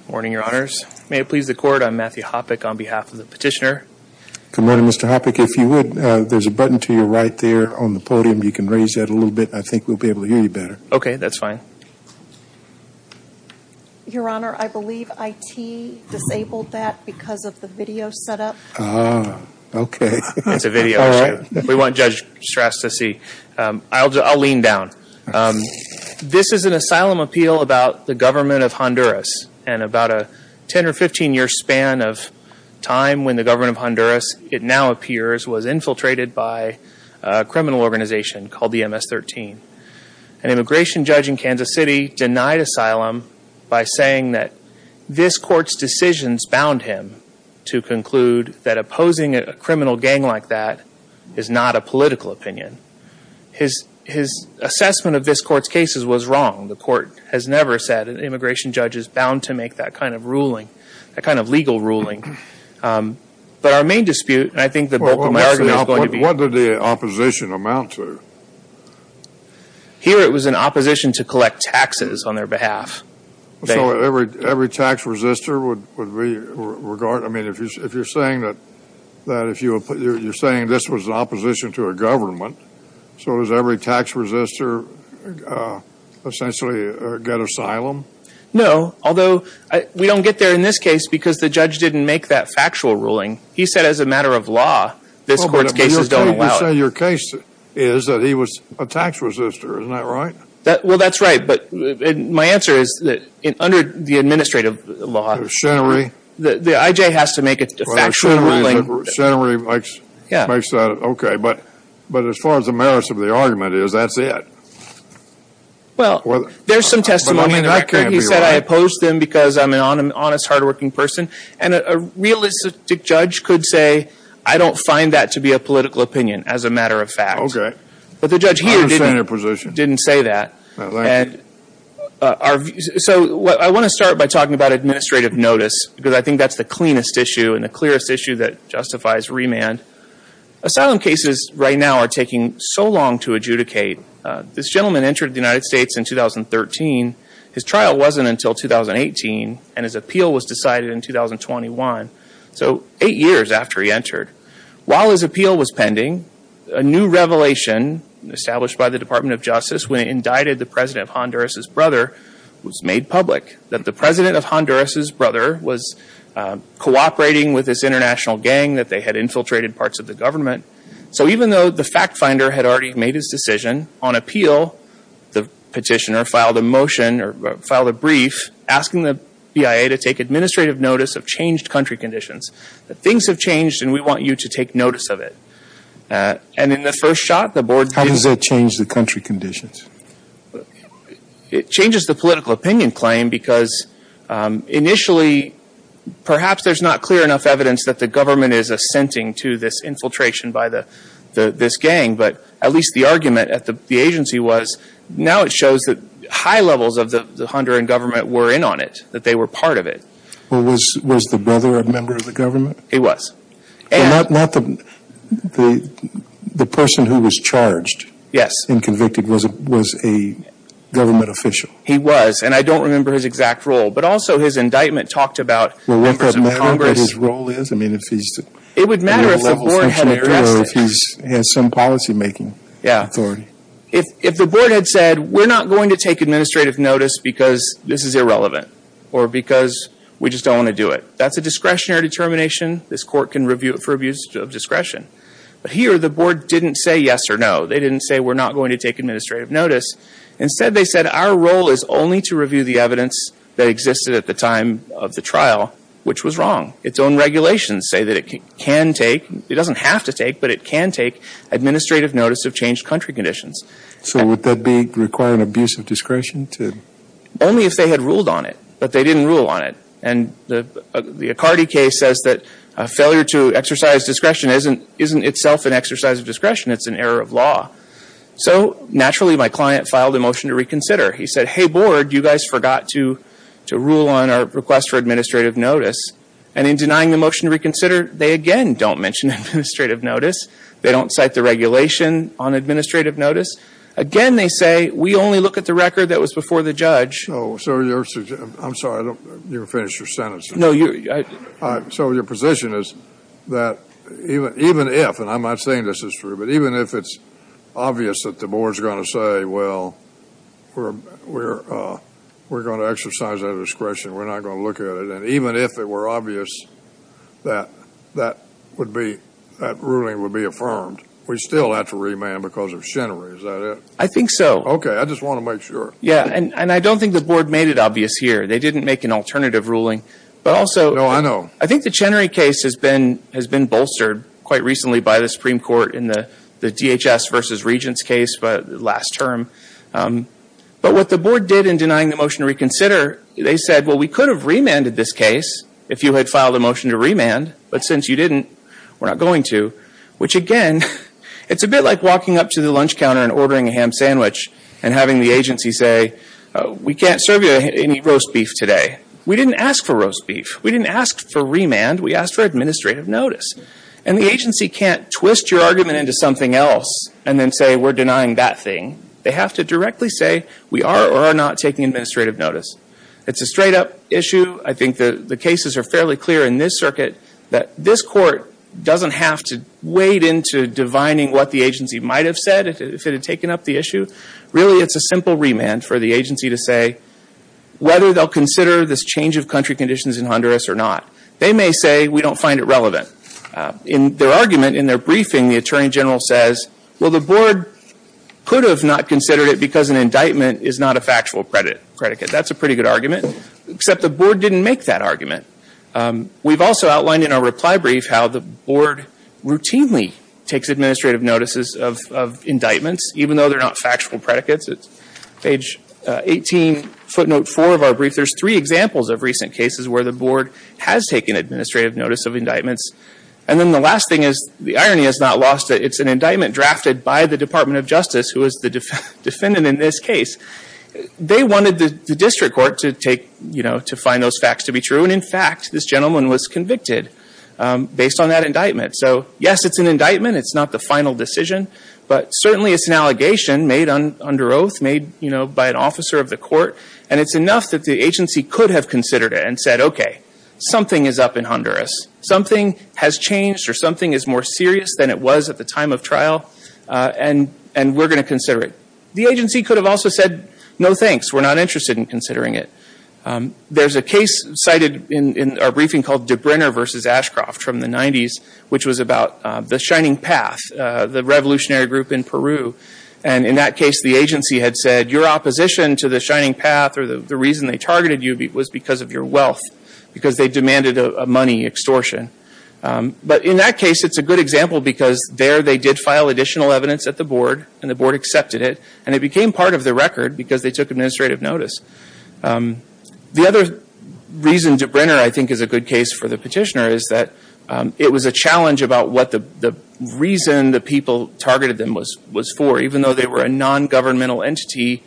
Good morning, your honors. May it please the court, I'm Matthew Hoppeck on behalf of the petitioner. Good morning, Mr. Hoppeck. If you would, there's a button to your right there on the podium. You can raise that a little bit. I think we'll be able to hear you better. Okay, that's fine. Your honor, I believe I.T. disabled that because of the video setup. Ah, okay. It's a video. We want Judge Strass to see. I'll lean down. This is an asylum appeal about the government of Honduras. And about a 10 or 15 year span of time when the government of Honduras, it now appears, was infiltrated by a criminal organization called the MS-13. An immigration judge in Kansas City denied asylum by saying that this court's decisions bound him to conclude that opposing a criminal gang like that is not a political opinion. His assessment of this court's cases was wrong. The court has never said that an immigration judge is bound to make that kind of ruling, that kind of legal ruling. But our main dispute, and I think the bulk of my argument is going to be. What did the opposition amount to? Here it was an opposition to collect taxes on their behalf. So every tax resistor would regard, I mean, if you're saying that, you're saying this was an opposition to a government, so does every tax resistor essentially get asylum? No, although we don't get there in this case because the judge didn't make that factual ruling. He said as a matter of law, this court's cases don't allow it. But you're saying your case is that he was a tax resistor, isn't that right? Well, that's right, but my answer is that under the administrative law. The machinery. The IJ has to make a factual ruling. The machinery makes that, okay. But as far as the merits of the argument is, that's it. Well, there's some testimony in the record. He said I opposed them because I'm an honest, hardworking person. And a realistic judge could say I don't find that to be a political opinion as a matter of fact. Okay. But the judge here didn't say that. So I want to start by talking about administrative notice because I think that's the cleanest issue and the clearest issue that justifies remand. Asylum cases right now are taking so long to adjudicate. This gentleman entered the United States in 2013. His trial wasn't until 2018, and his appeal was decided in 2021. So eight years after he entered. While his appeal was pending, a new revelation established by the Department of Justice when it indicted the president of Honduras' brother was made public. That the president of Honduras' brother was cooperating with this international gang that they had infiltrated parts of the government. So even though the fact finder had already made his decision, on appeal the petitioner filed a motion or filed a brief asking the BIA to take administrative notice of changed country conditions. Things have changed, and we want you to take notice of it. And in the first shot, the board... How does that change the country conditions? It changes the political opinion claim because initially perhaps there's not clear enough evidence that the government is assenting to this infiltration by this gang. But at least the argument at the agency was now it shows that high levels of the Honduran government were in on it, that they were part of it. Was the brother a member of the government? He was. Not the person who was charged? Yes. The person who was convicted was a government official. He was, and I don't remember his exact role. But also his indictment talked about members of Congress. Would it matter what his role is? It would matter if the board had addressed it. Or if he has some policymaking authority. If the board had said, we're not going to take administrative notice because this is irrelevant or because we just don't want to do it. That's a discretionary determination. This court can review it for abuse of discretion. But here the board didn't say yes or no. They didn't say we're not going to take administrative notice. Instead they said our role is only to review the evidence that existed at the time of the trial, which was wrong. Its own regulations say that it can take, it doesn't have to take, but it can take administrative notice of changed country conditions. So would that be requiring abuse of discretion? Only if they had ruled on it. But they didn't rule on it. And the Accardi case says that a failure to exercise discretion isn't itself an exercise of discretion. It's an error of law. So naturally my client filed a motion to reconsider. He said, hey, board, you guys forgot to rule on our request for administrative notice. And in denying the motion to reconsider, they again don't mention administrative notice. They don't cite the regulation on administrative notice. Again they say we only look at the record that was before the judge. So your, I'm sorry, you're finished your sentence. So your position is that even if, and I'm not saying this is true, but even if it's obvious that the board is going to say, well, we're going to exercise our discretion, we're not going to look at it, and even if it were obvious that that would be, that ruling would be affirmed, we still have to remand because of Chenery, is that it? I think so. Okay, I just want to make sure. Yeah, and I don't think the board made it obvious here. They didn't make an alternative ruling. But also. No, I know. I think the Chenery case has been bolstered quite recently by the Supreme Court in the DHS versus Regents case last term. But what the board did in denying the motion to reconsider, they said, well, we could have remanded this case if you had filed a motion to remand. But since you didn't, we're not going to. Which again, it's a bit like walking up to the lunch counter and ordering a ham sandwich and having the agency say, we can't serve you any roast beef today. We didn't ask for roast beef. We didn't ask for remand. We asked for administrative notice. And the agency can't twist your argument into something else and then say we're denying that thing. They have to directly say we are or are not taking administrative notice. It's a straight-up issue. I think the cases are fairly clear in this circuit that this court doesn't have to wade into divining what the agency might have said if it had taken up the issue. Really, it's a simple remand for the agency to say whether they'll consider this change of country conditions in Honduras or not. They may say we don't find it relevant. In their argument, in their briefing, the Attorney General says, well, the board could have not considered it because an indictment is not a factual predicate. That's a pretty good argument. Except the board didn't make that argument. We've also outlined in our reply brief how the board routinely takes administrative notices of indictments, even though they're not factual predicates. It's page 18, footnote 4 of our brief. There's three examples of recent cases where the board has taken administrative notice of indictments. And then the last thing is the irony is not lost. It's an indictment drafted by the Department of Justice, who is the defendant in this case. They wanted the district court to find those facts to be true. And, in fact, this gentleman was convicted based on that indictment. So, yes, it's an indictment. It's not the final decision. But certainly it's an allegation made under oath, made by an officer of the court. And it's enough that the agency could have considered it and said, okay, something is up in Honduras. Something has changed or something is more serious than it was at the time of trial. And we're going to consider it. The agency could have also said, no, thanks. We're not interested in considering it. There's a case cited in our briefing called DeBrenner v. Ashcroft from the 90s, And, in that case, the agency had said, your opposition to the Shining Path or the reason they targeted you was because of your wealth. Because they demanded a money extortion. But, in that case, it's a good example because there they did file additional evidence at the board. And the board accepted it. And it became part of the record because they took administrative notice. The other reason DeBrenner, I think, is a good case for the petitioner, Is that it was a challenge about what the reason the people targeted them was for. Even though they were a non-governmental entity.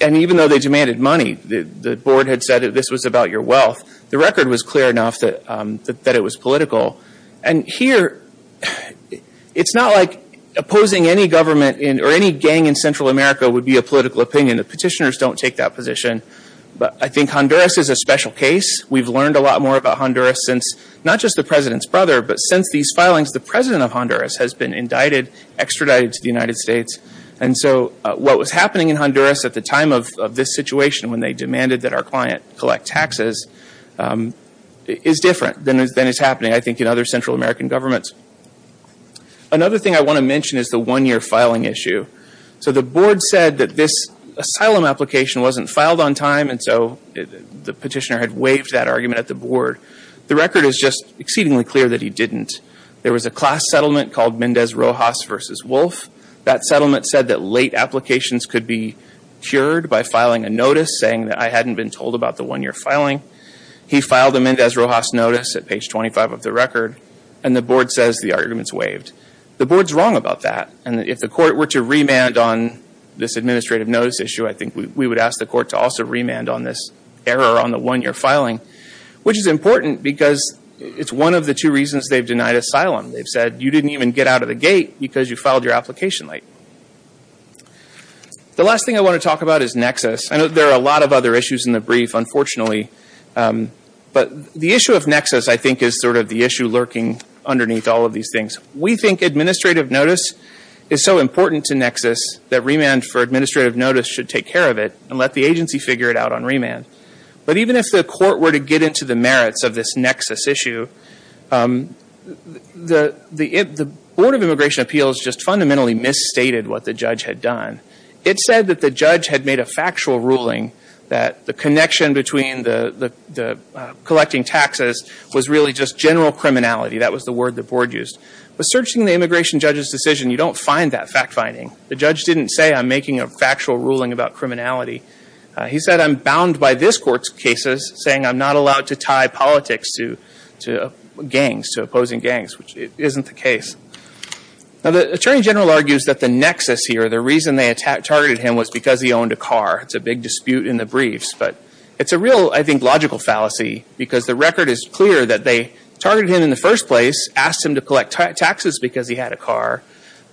And even though they demanded money, the board had said that this was about your wealth. The record was clear enough that it was political. And, here, it's not like opposing any government or any gang in Central America would be a political opinion. The petitioners don't take that position. But I think Honduras is a special case. We've learned a lot more about Honduras since, not just the president's brother, But since these filings, the president of Honduras has been indicted, extradited to the United States. And so, what was happening in Honduras at the time of this situation, When they demanded that our client collect taxes, is different than is happening, I think, in other Central American governments. Another thing I want to mention is the one-year filing issue. So, the board said that this asylum application wasn't filed on time. And so, the petitioner had waived that argument at the board. The record is just exceedingly clear that he didn't. There was a class settlement called Mendez-Rojas v. Wolf. That settlement said that late applications could be cured by filing a notice, Saying that I hadn't been told about the one-year filing. He filed a Mendez-Rojas notice at page 25 of the record. And the board says the argument's waived. The board's wrong about that. And if the court were to remand on this administrative notice issue, I think we would ask the court to also remand on this error on the one-year filing. Which is important because it's one of the two reasons they've denied asylum. They've said you didn't even get out of the gate because you filed your application late. The last thing I want to talk about is Nexus. I know there are a lot of other issues in the brief, unfortunately. But the issue of Nexus, I think, is sort of the issue lurking underneath all of these things. We think administrative notice is so important to Nexus that remand for administrative notice should take care of it and let the agency figure it out on remand. But even if the court were to get into the merits of this Nexus issue, the Board of Immigration Appeals just fundamentally misstated what the judge had done. It said that the judge had made a factual ruling that the connection between the collecting taxes was really just general criminality. That was the word the board used. But searching the immigration judge's decision, you don't find that fact-finding. The judge didn't say, I'm making a factual ruling about criminality. He said, I'm bound by this court's cases saying I'm not allowed to tie politics to gangs, to opposing gangs, which isn't the case. Now the Attorney General argues that the Nexus here, the reason they targeted him was because he owned a car. It's a big dispute in the briefs. But it's a real, I think, logical fallacy because the record is clear that they targeted him in the first place, asked him to collect taxes because he had a car.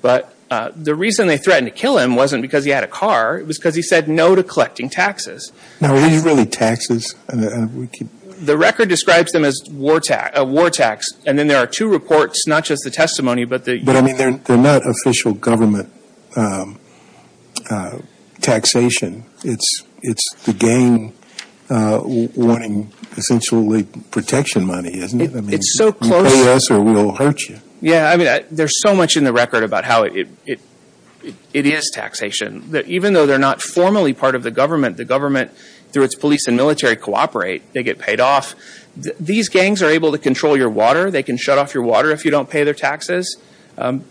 But the reason they threatened to kill him wasn't because he had a car. It was because he said no to collecting taxes. Now are these really taxes? The record describes them as war tax. And then there are two reports, not just the testimony, but the... But, I mean, they're not official government taxation. It's the gang wanting, essentially, protection money, isn't it? I mean, you pay us or we'll hurt you. Yeah, I mean, there's so much in the record about how it is taxation. Even though they're not formally part of the government, the government, through its police and military, cooperate. They get paid off. These gangs are able to control your water. They can shut off your water if you don't pay their taxes.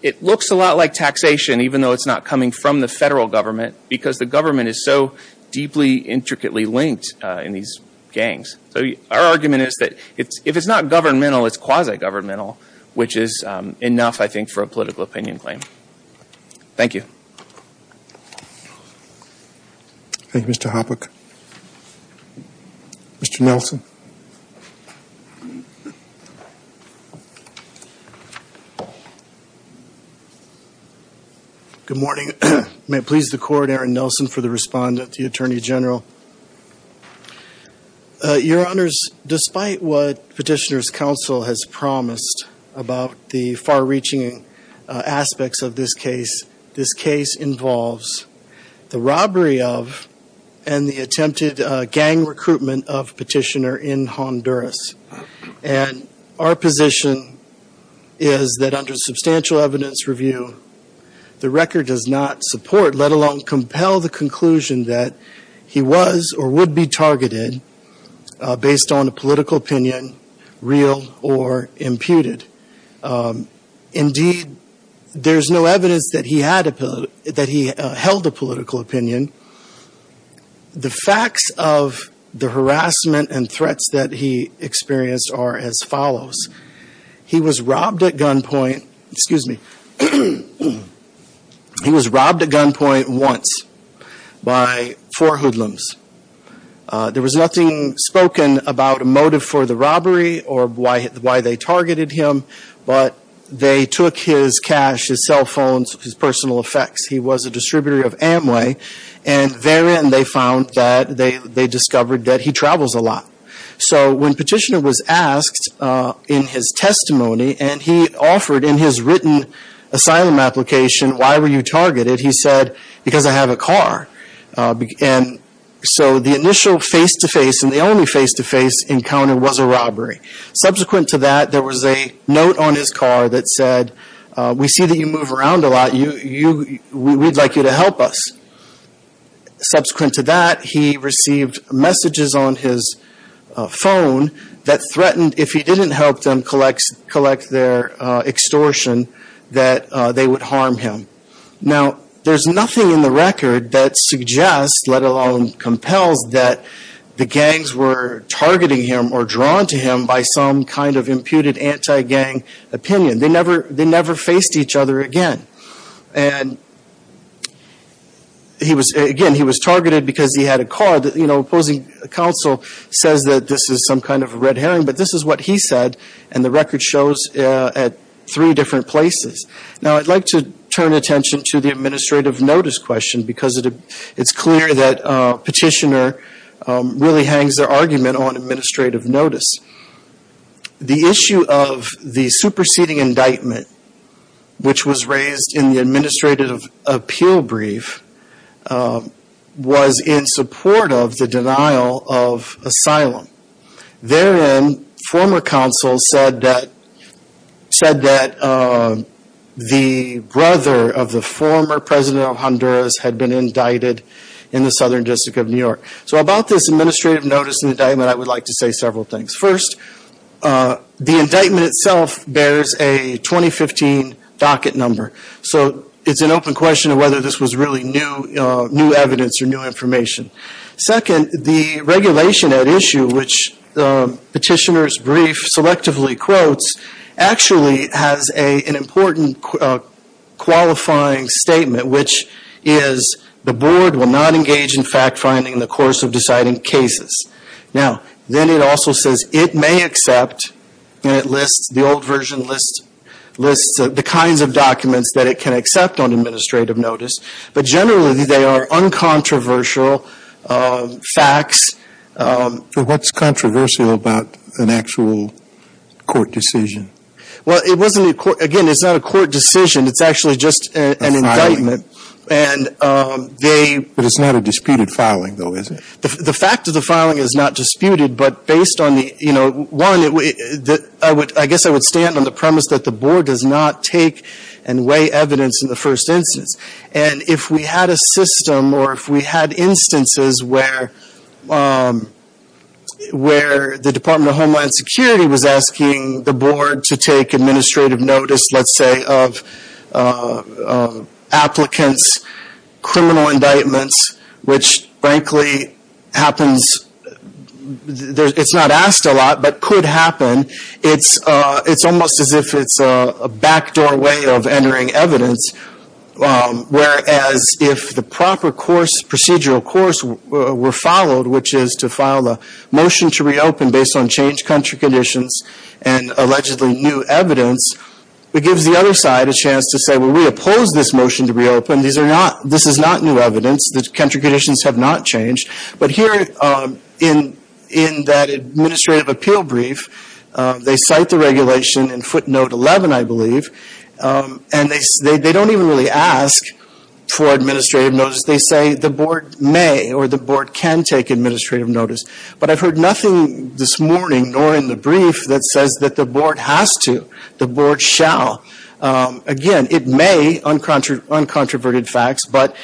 It looks a lot like taxation, even though it's not coming from the federal government because the government is so deeply, intricately linked in these gangs. So our argument is that if it's not governmental, it's quasi-governmental, which is enough, I think, for a political opinion claim. Thank you. Thank you, Mr. Hopwick. Mr. Nelson. Thank you. Good morning. May it please the Court, Aaron Nelson for the respondent, the Attorney General. Your Honors, despite what Petitioner's Counsel has promised about the far-reaching aspects of this case, this case involves the robbery of and the attempted gang recruitment of Petitioner in Honduras. And our position is that under substantial evidence review, the record does not support, let alone compel, the conclusion that he was or would be targeted based on a political opinion, real or imputed. Indeed, there's no evidence that he held a political opinion. The facts of the harassment and threats that he experienced are as follows. He was robbed at gunpoint once by four hoodlums. There was nothing spoken about a motive for the robbery or why they targeted him, but they took his cash, his cell phones, his personal effects. He was a distributor of Amway, and therein they found that they discovered that he travels a lot. So when Petitioner was asked in his testimony, and he offered in his written asylum application, why were you targeted, he said, because I have a car. And so the initial face-to-face and the only face-to-face encounter was a robbery. Subsequent to that, there was a note on his car that said, we see that you move around a lot. We'd like you to help us. Subsequent to that, he received messages on his phone that threatened, if he didn't help them collect their extortion, that they would harm him. Now, there's nothing in the record that suggests, let alone compels, that the gangs were targeting him or drawn to him by some kind of imputed anti-gang opinion. They never faced each other again. Again, he was targeted because he had a car. Now, the opposing counsel says that this is some kind of red herring, but this is what he said, and the record shows at three different places. Now, I'd like to turn attention to the administrative notice question, because it's clear that Petitioner really hangs their argument on administrative notice. The issue of the superseding indictment, which was raised in the administrative appeal brief, was in support of the denial of asylum. Therein, former counsel said that the brother of the former president of Honduras had been indicted in the Southern District of New York. So about this administrative notice indictment, I would like to say several things. First, the indictment itself bears a 2015 docket number, so it's an open question of whether this was really new evidence or new information. Second, the regulation at issue, which Petitioner's brief selectively quotes, actually has an important qualifying statement, which is the board will not engage in fact-finding in the course of deciding cases. Now, then it also says it may accept, and it lists, the old version lists, the kinds of documents that it can accept on administrative notice. But generally, they are uncontroversial facts. But what's controversial about an actual court decision? Well, it wasn't a court, again, it's not a court decision. It's actually just an indictment. A filing. And they But it's not a disputed filing, though, is it? The fact of the filing is not disputed, but based on the, you know, one, I guess I would stand on the premise that the board does not take and weigh evidence in the first instance. And if we had a system or if we had instances where the Department of Homeland Security was asking the board to take administrative notice, let's say, of applicants, criminal indictments, which frankly happens, it's not asked a lot, but could happen, it's almost as if it's a backdoor way of entering evidence, whereas if the proper course, procedural course were followed, which is to file a motion to reopen based on changed country conditions and allegedly new evidence, it gives the other side a chance to say, well, we oppose this motion to reopen. This is not new evidence. The country conditions have not changed. But here in that administrative appeal brief, they cite the regulation in footnote 11, I believe, and they don't even really ask for administrative notice. They say the board may or the board can take administrative notice. But I've heard nothing this morning, nor in the brief, that says that the board has to. The board shall. Again, it may, uncontroverted facts, but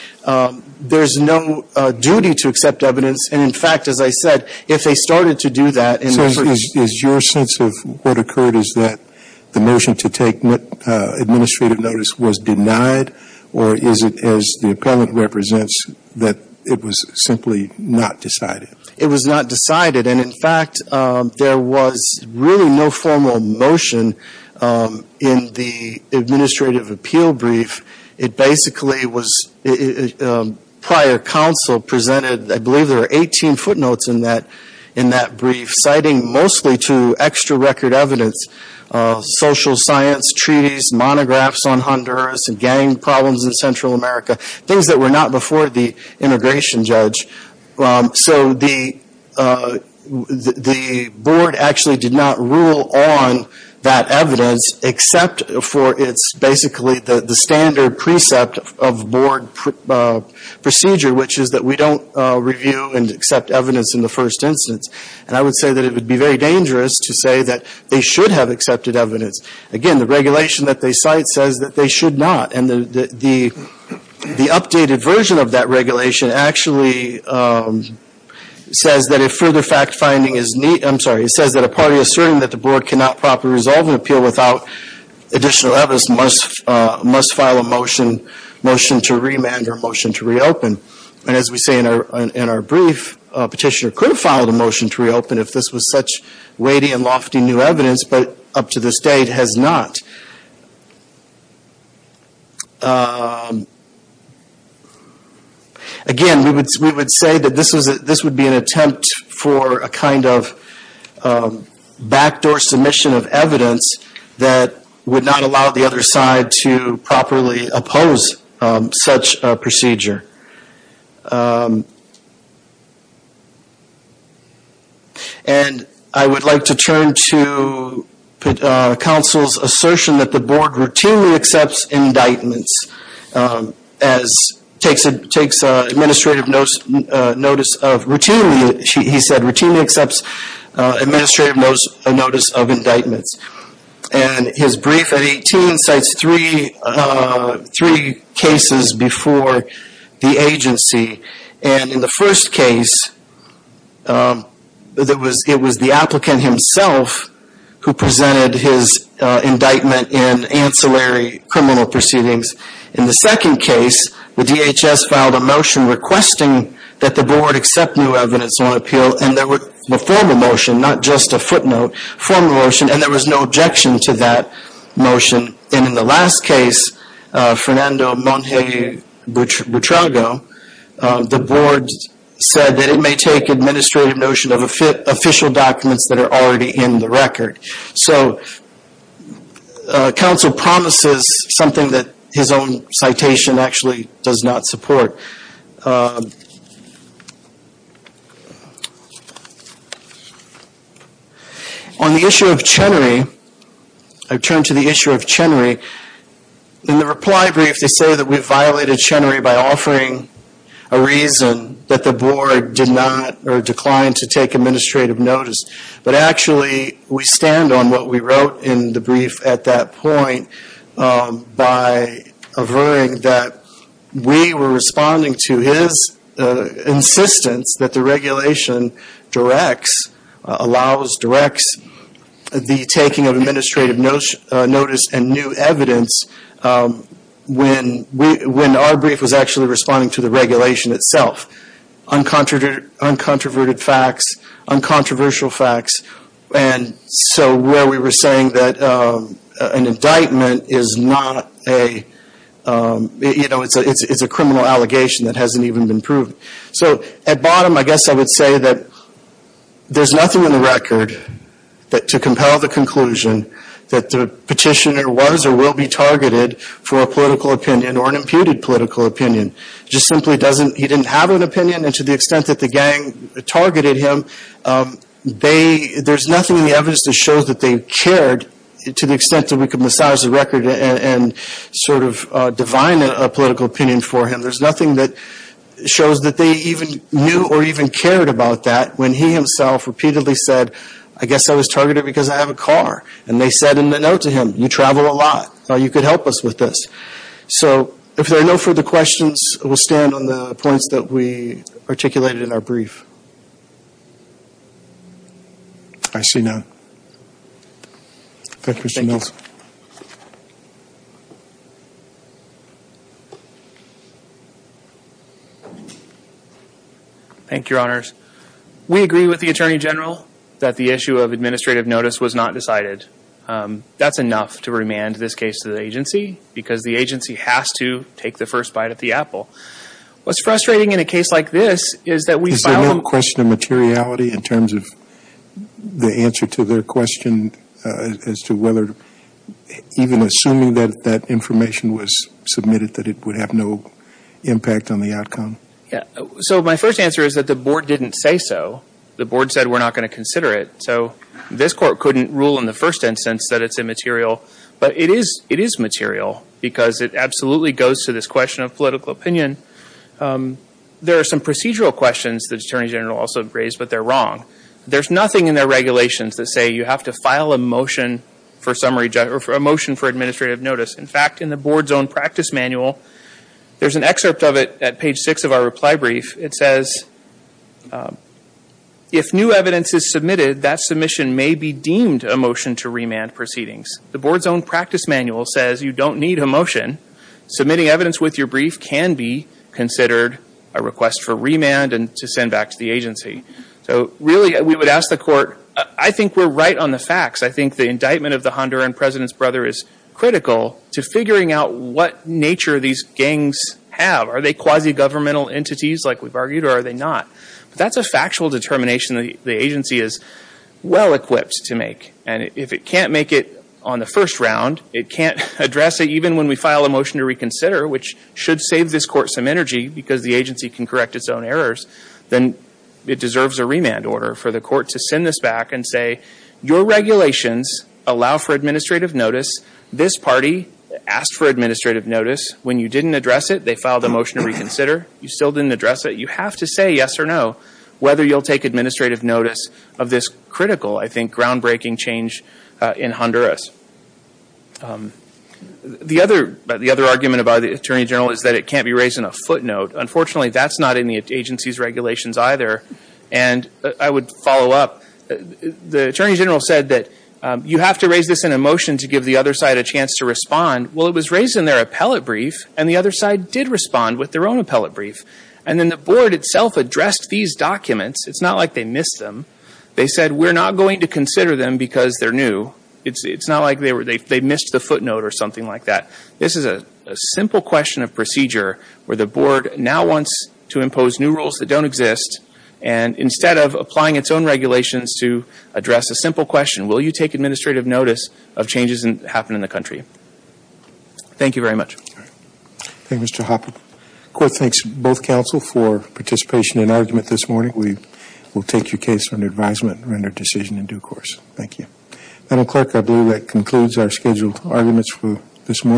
there's no duty to accept evidence. And, in fact, as I said, if they started to do that. So is your sense of what occurred is that the motion to take administrative notice was denied, or is it as the appellant represents that it was simply not decided? It was not decided. And, in fact, there was really no formal motion in the administrative appeal brief. It basically was prior counsel presented, I believe there were 18 footnotes in that brief, citing mostly to extra record evidence, social science treaties, monographs on Honduras, and gang problems in Central America, things that were not before the immigration judge. So the board actually did not rule on that evidence, except for it's basically the standard precept of board procedure, which is that we don't review and accept evidence in the first instance. And I would say that it would be very dangerous to say that they should have accepted evidence. Again, the regulation that they cite says that they should not. And the updated version of that regulation actually says that if further fact finding is needed, I'm sorry, it says that a party asserting that the board cannot properly resolve an appeal without additional evidence must file a motion to remand or a motion to reopen. And as we say in our brief, a petitioner could file a motion to reopen if this was such weighty and lofty new evidence, but up to this date has not. Again, we would say that this would be an attempt for a kind of backdoor submission of evidence that would not allow the other side to properly oppose such a procedure. And I would like to turn to counsel's assertion that the board routinely accepts indictments, as takes administrative notice of routinely, he said routinely accepts administrative notice of indictments. And his brief at 18 cites three cases before the agency. And in the first case, it was the applicant himself who presented his indictment in ancillary criminal proceedings. In the second case, the DHS filed a motion requesting that the board accept new evidence on appeal, and there was a formal motion, not just a footnote, formal motion, and there was no objection to that motion. And in the last case, Fernando Monge Butrago, the board said that it may take administrative notion of official documents that are already in the record. So, counsel promises something that his own citation actually does not support. On the issue of Chenery, I turn to the issue of Chenery. In the reply brief, they say that we violated Chenery by offering a reason that the board did not or declined to take administrative notice. But actually, we stand on what we wrote in the brief at that point by averring that we were responding to his insistence that the regulation directs, allows, directs the taking of administrative notice and new evidence when our brief was actually responding to the regulation itself. Uncontroverted facts, uncontroversial facts, and so where we were saying that an indictment is not a, you know, it's a criminal allegation that hasn't even been proved. So, at bottom, I guess I would say that there's nothing in the record to compel the conclusion that the petitioner was or will be targeted for a political opinion or an imputed political opinion. It just simply doesn't, he didn't have an opinion and to the extent that the gang targeted him, they, there's nothing in the evidence that shows that they cared to the extent that we could massage the record and sort of divine a political opinion for him. There's nothing that shows that they even knew or even cared about that when he himself repeatedly said, I guess I was targeted because I have a car. And they said in the note to him, you travel a lot, you could help us with this. So, if there are no further questions, we'll stand on the points that we articulated in our brief. I see none. Thank you, Mr. Mills. Thank you, Your Honors. We agree with the Attorney General that the issue of administrative notice was not decided. That's enough to remand this case to the agency because the agency has to take the first bite at the apple. What's frustrating in a case like this is that we file them. Is there no question of materiality in terms of the answer to their question as to whether even assuming that that information was submitted that it would have no impact on the outcome? So, my first answer is that the board didn't say so. The board said we're not going to consider it. So, this court couldn't rule in the first instance that it's immaterial. But it is material because it absolutely goes to this question of political opinion. There are some procedural questions that the Attorney General also raised, but they're wrong. There's nothing in their regulations that say you have to file a motion for administrative notice. In fact, in the board's own practice manual, there's an excerpt of it at page six of our reply brief. It says, if new evidence is submitted, that submission may be deemed a motion to remand proceedings. The board's own practice manual says you don't need a motion. Submitting evidence with your brief can be considered a request for remand and to send back to the agency. So, really, we would ask the court, I think we're right on the facts. I think the indictment of the Honduran president's brother is critical to figuring out what nature these gangs have. Are they quasi-governmental entities, like we've argued, or are they not? But that's a factual determination the agency is well-equipped to make. And if it can't make it on the first round, it can't address it even when we file a motion to reconsider, which should save this court some energy because the agency can correct its own errors, then it deserves a remand order for the court to send this back and say, your regulations allow for administrative notice. This party asked for administrative notice. When you didn't address it, they filed a motion to reconsider. You still didn't address it. You have to say yes or no, whether you'll take administrative notice of this critical, I think, groundbreaking change in Honduras. The other argument by the Attorney General is that it can't be raised in a footnote. Unfortunately, that's not in the agency's regulations either. And I would follow up. The Attorney General said that you have to raise this in a motion to give the other side a chance to respond. Well, it was raised in their appellate brief, and the other side did respond with their own appellate brief. And then the board itself addressed these documents. It's not like they missed them. They said, we're not going to consider them because they're new. It's not like they missed the footnote or something like that. This is a simple question of procedure where the board now wants to impose new rules that don't exist. And instead of applying its own regulations to address a simple question, will you take administrative notice of changes that happen in the country? Thank you very much. Thank you, Mr. Hoppe. The court thanks both counsel for participation in argument this morning. We will take your case under advisement and render a decision in due course. Thank you. Madam Clerk, I believe that concludes our scheduled arguments for this morning.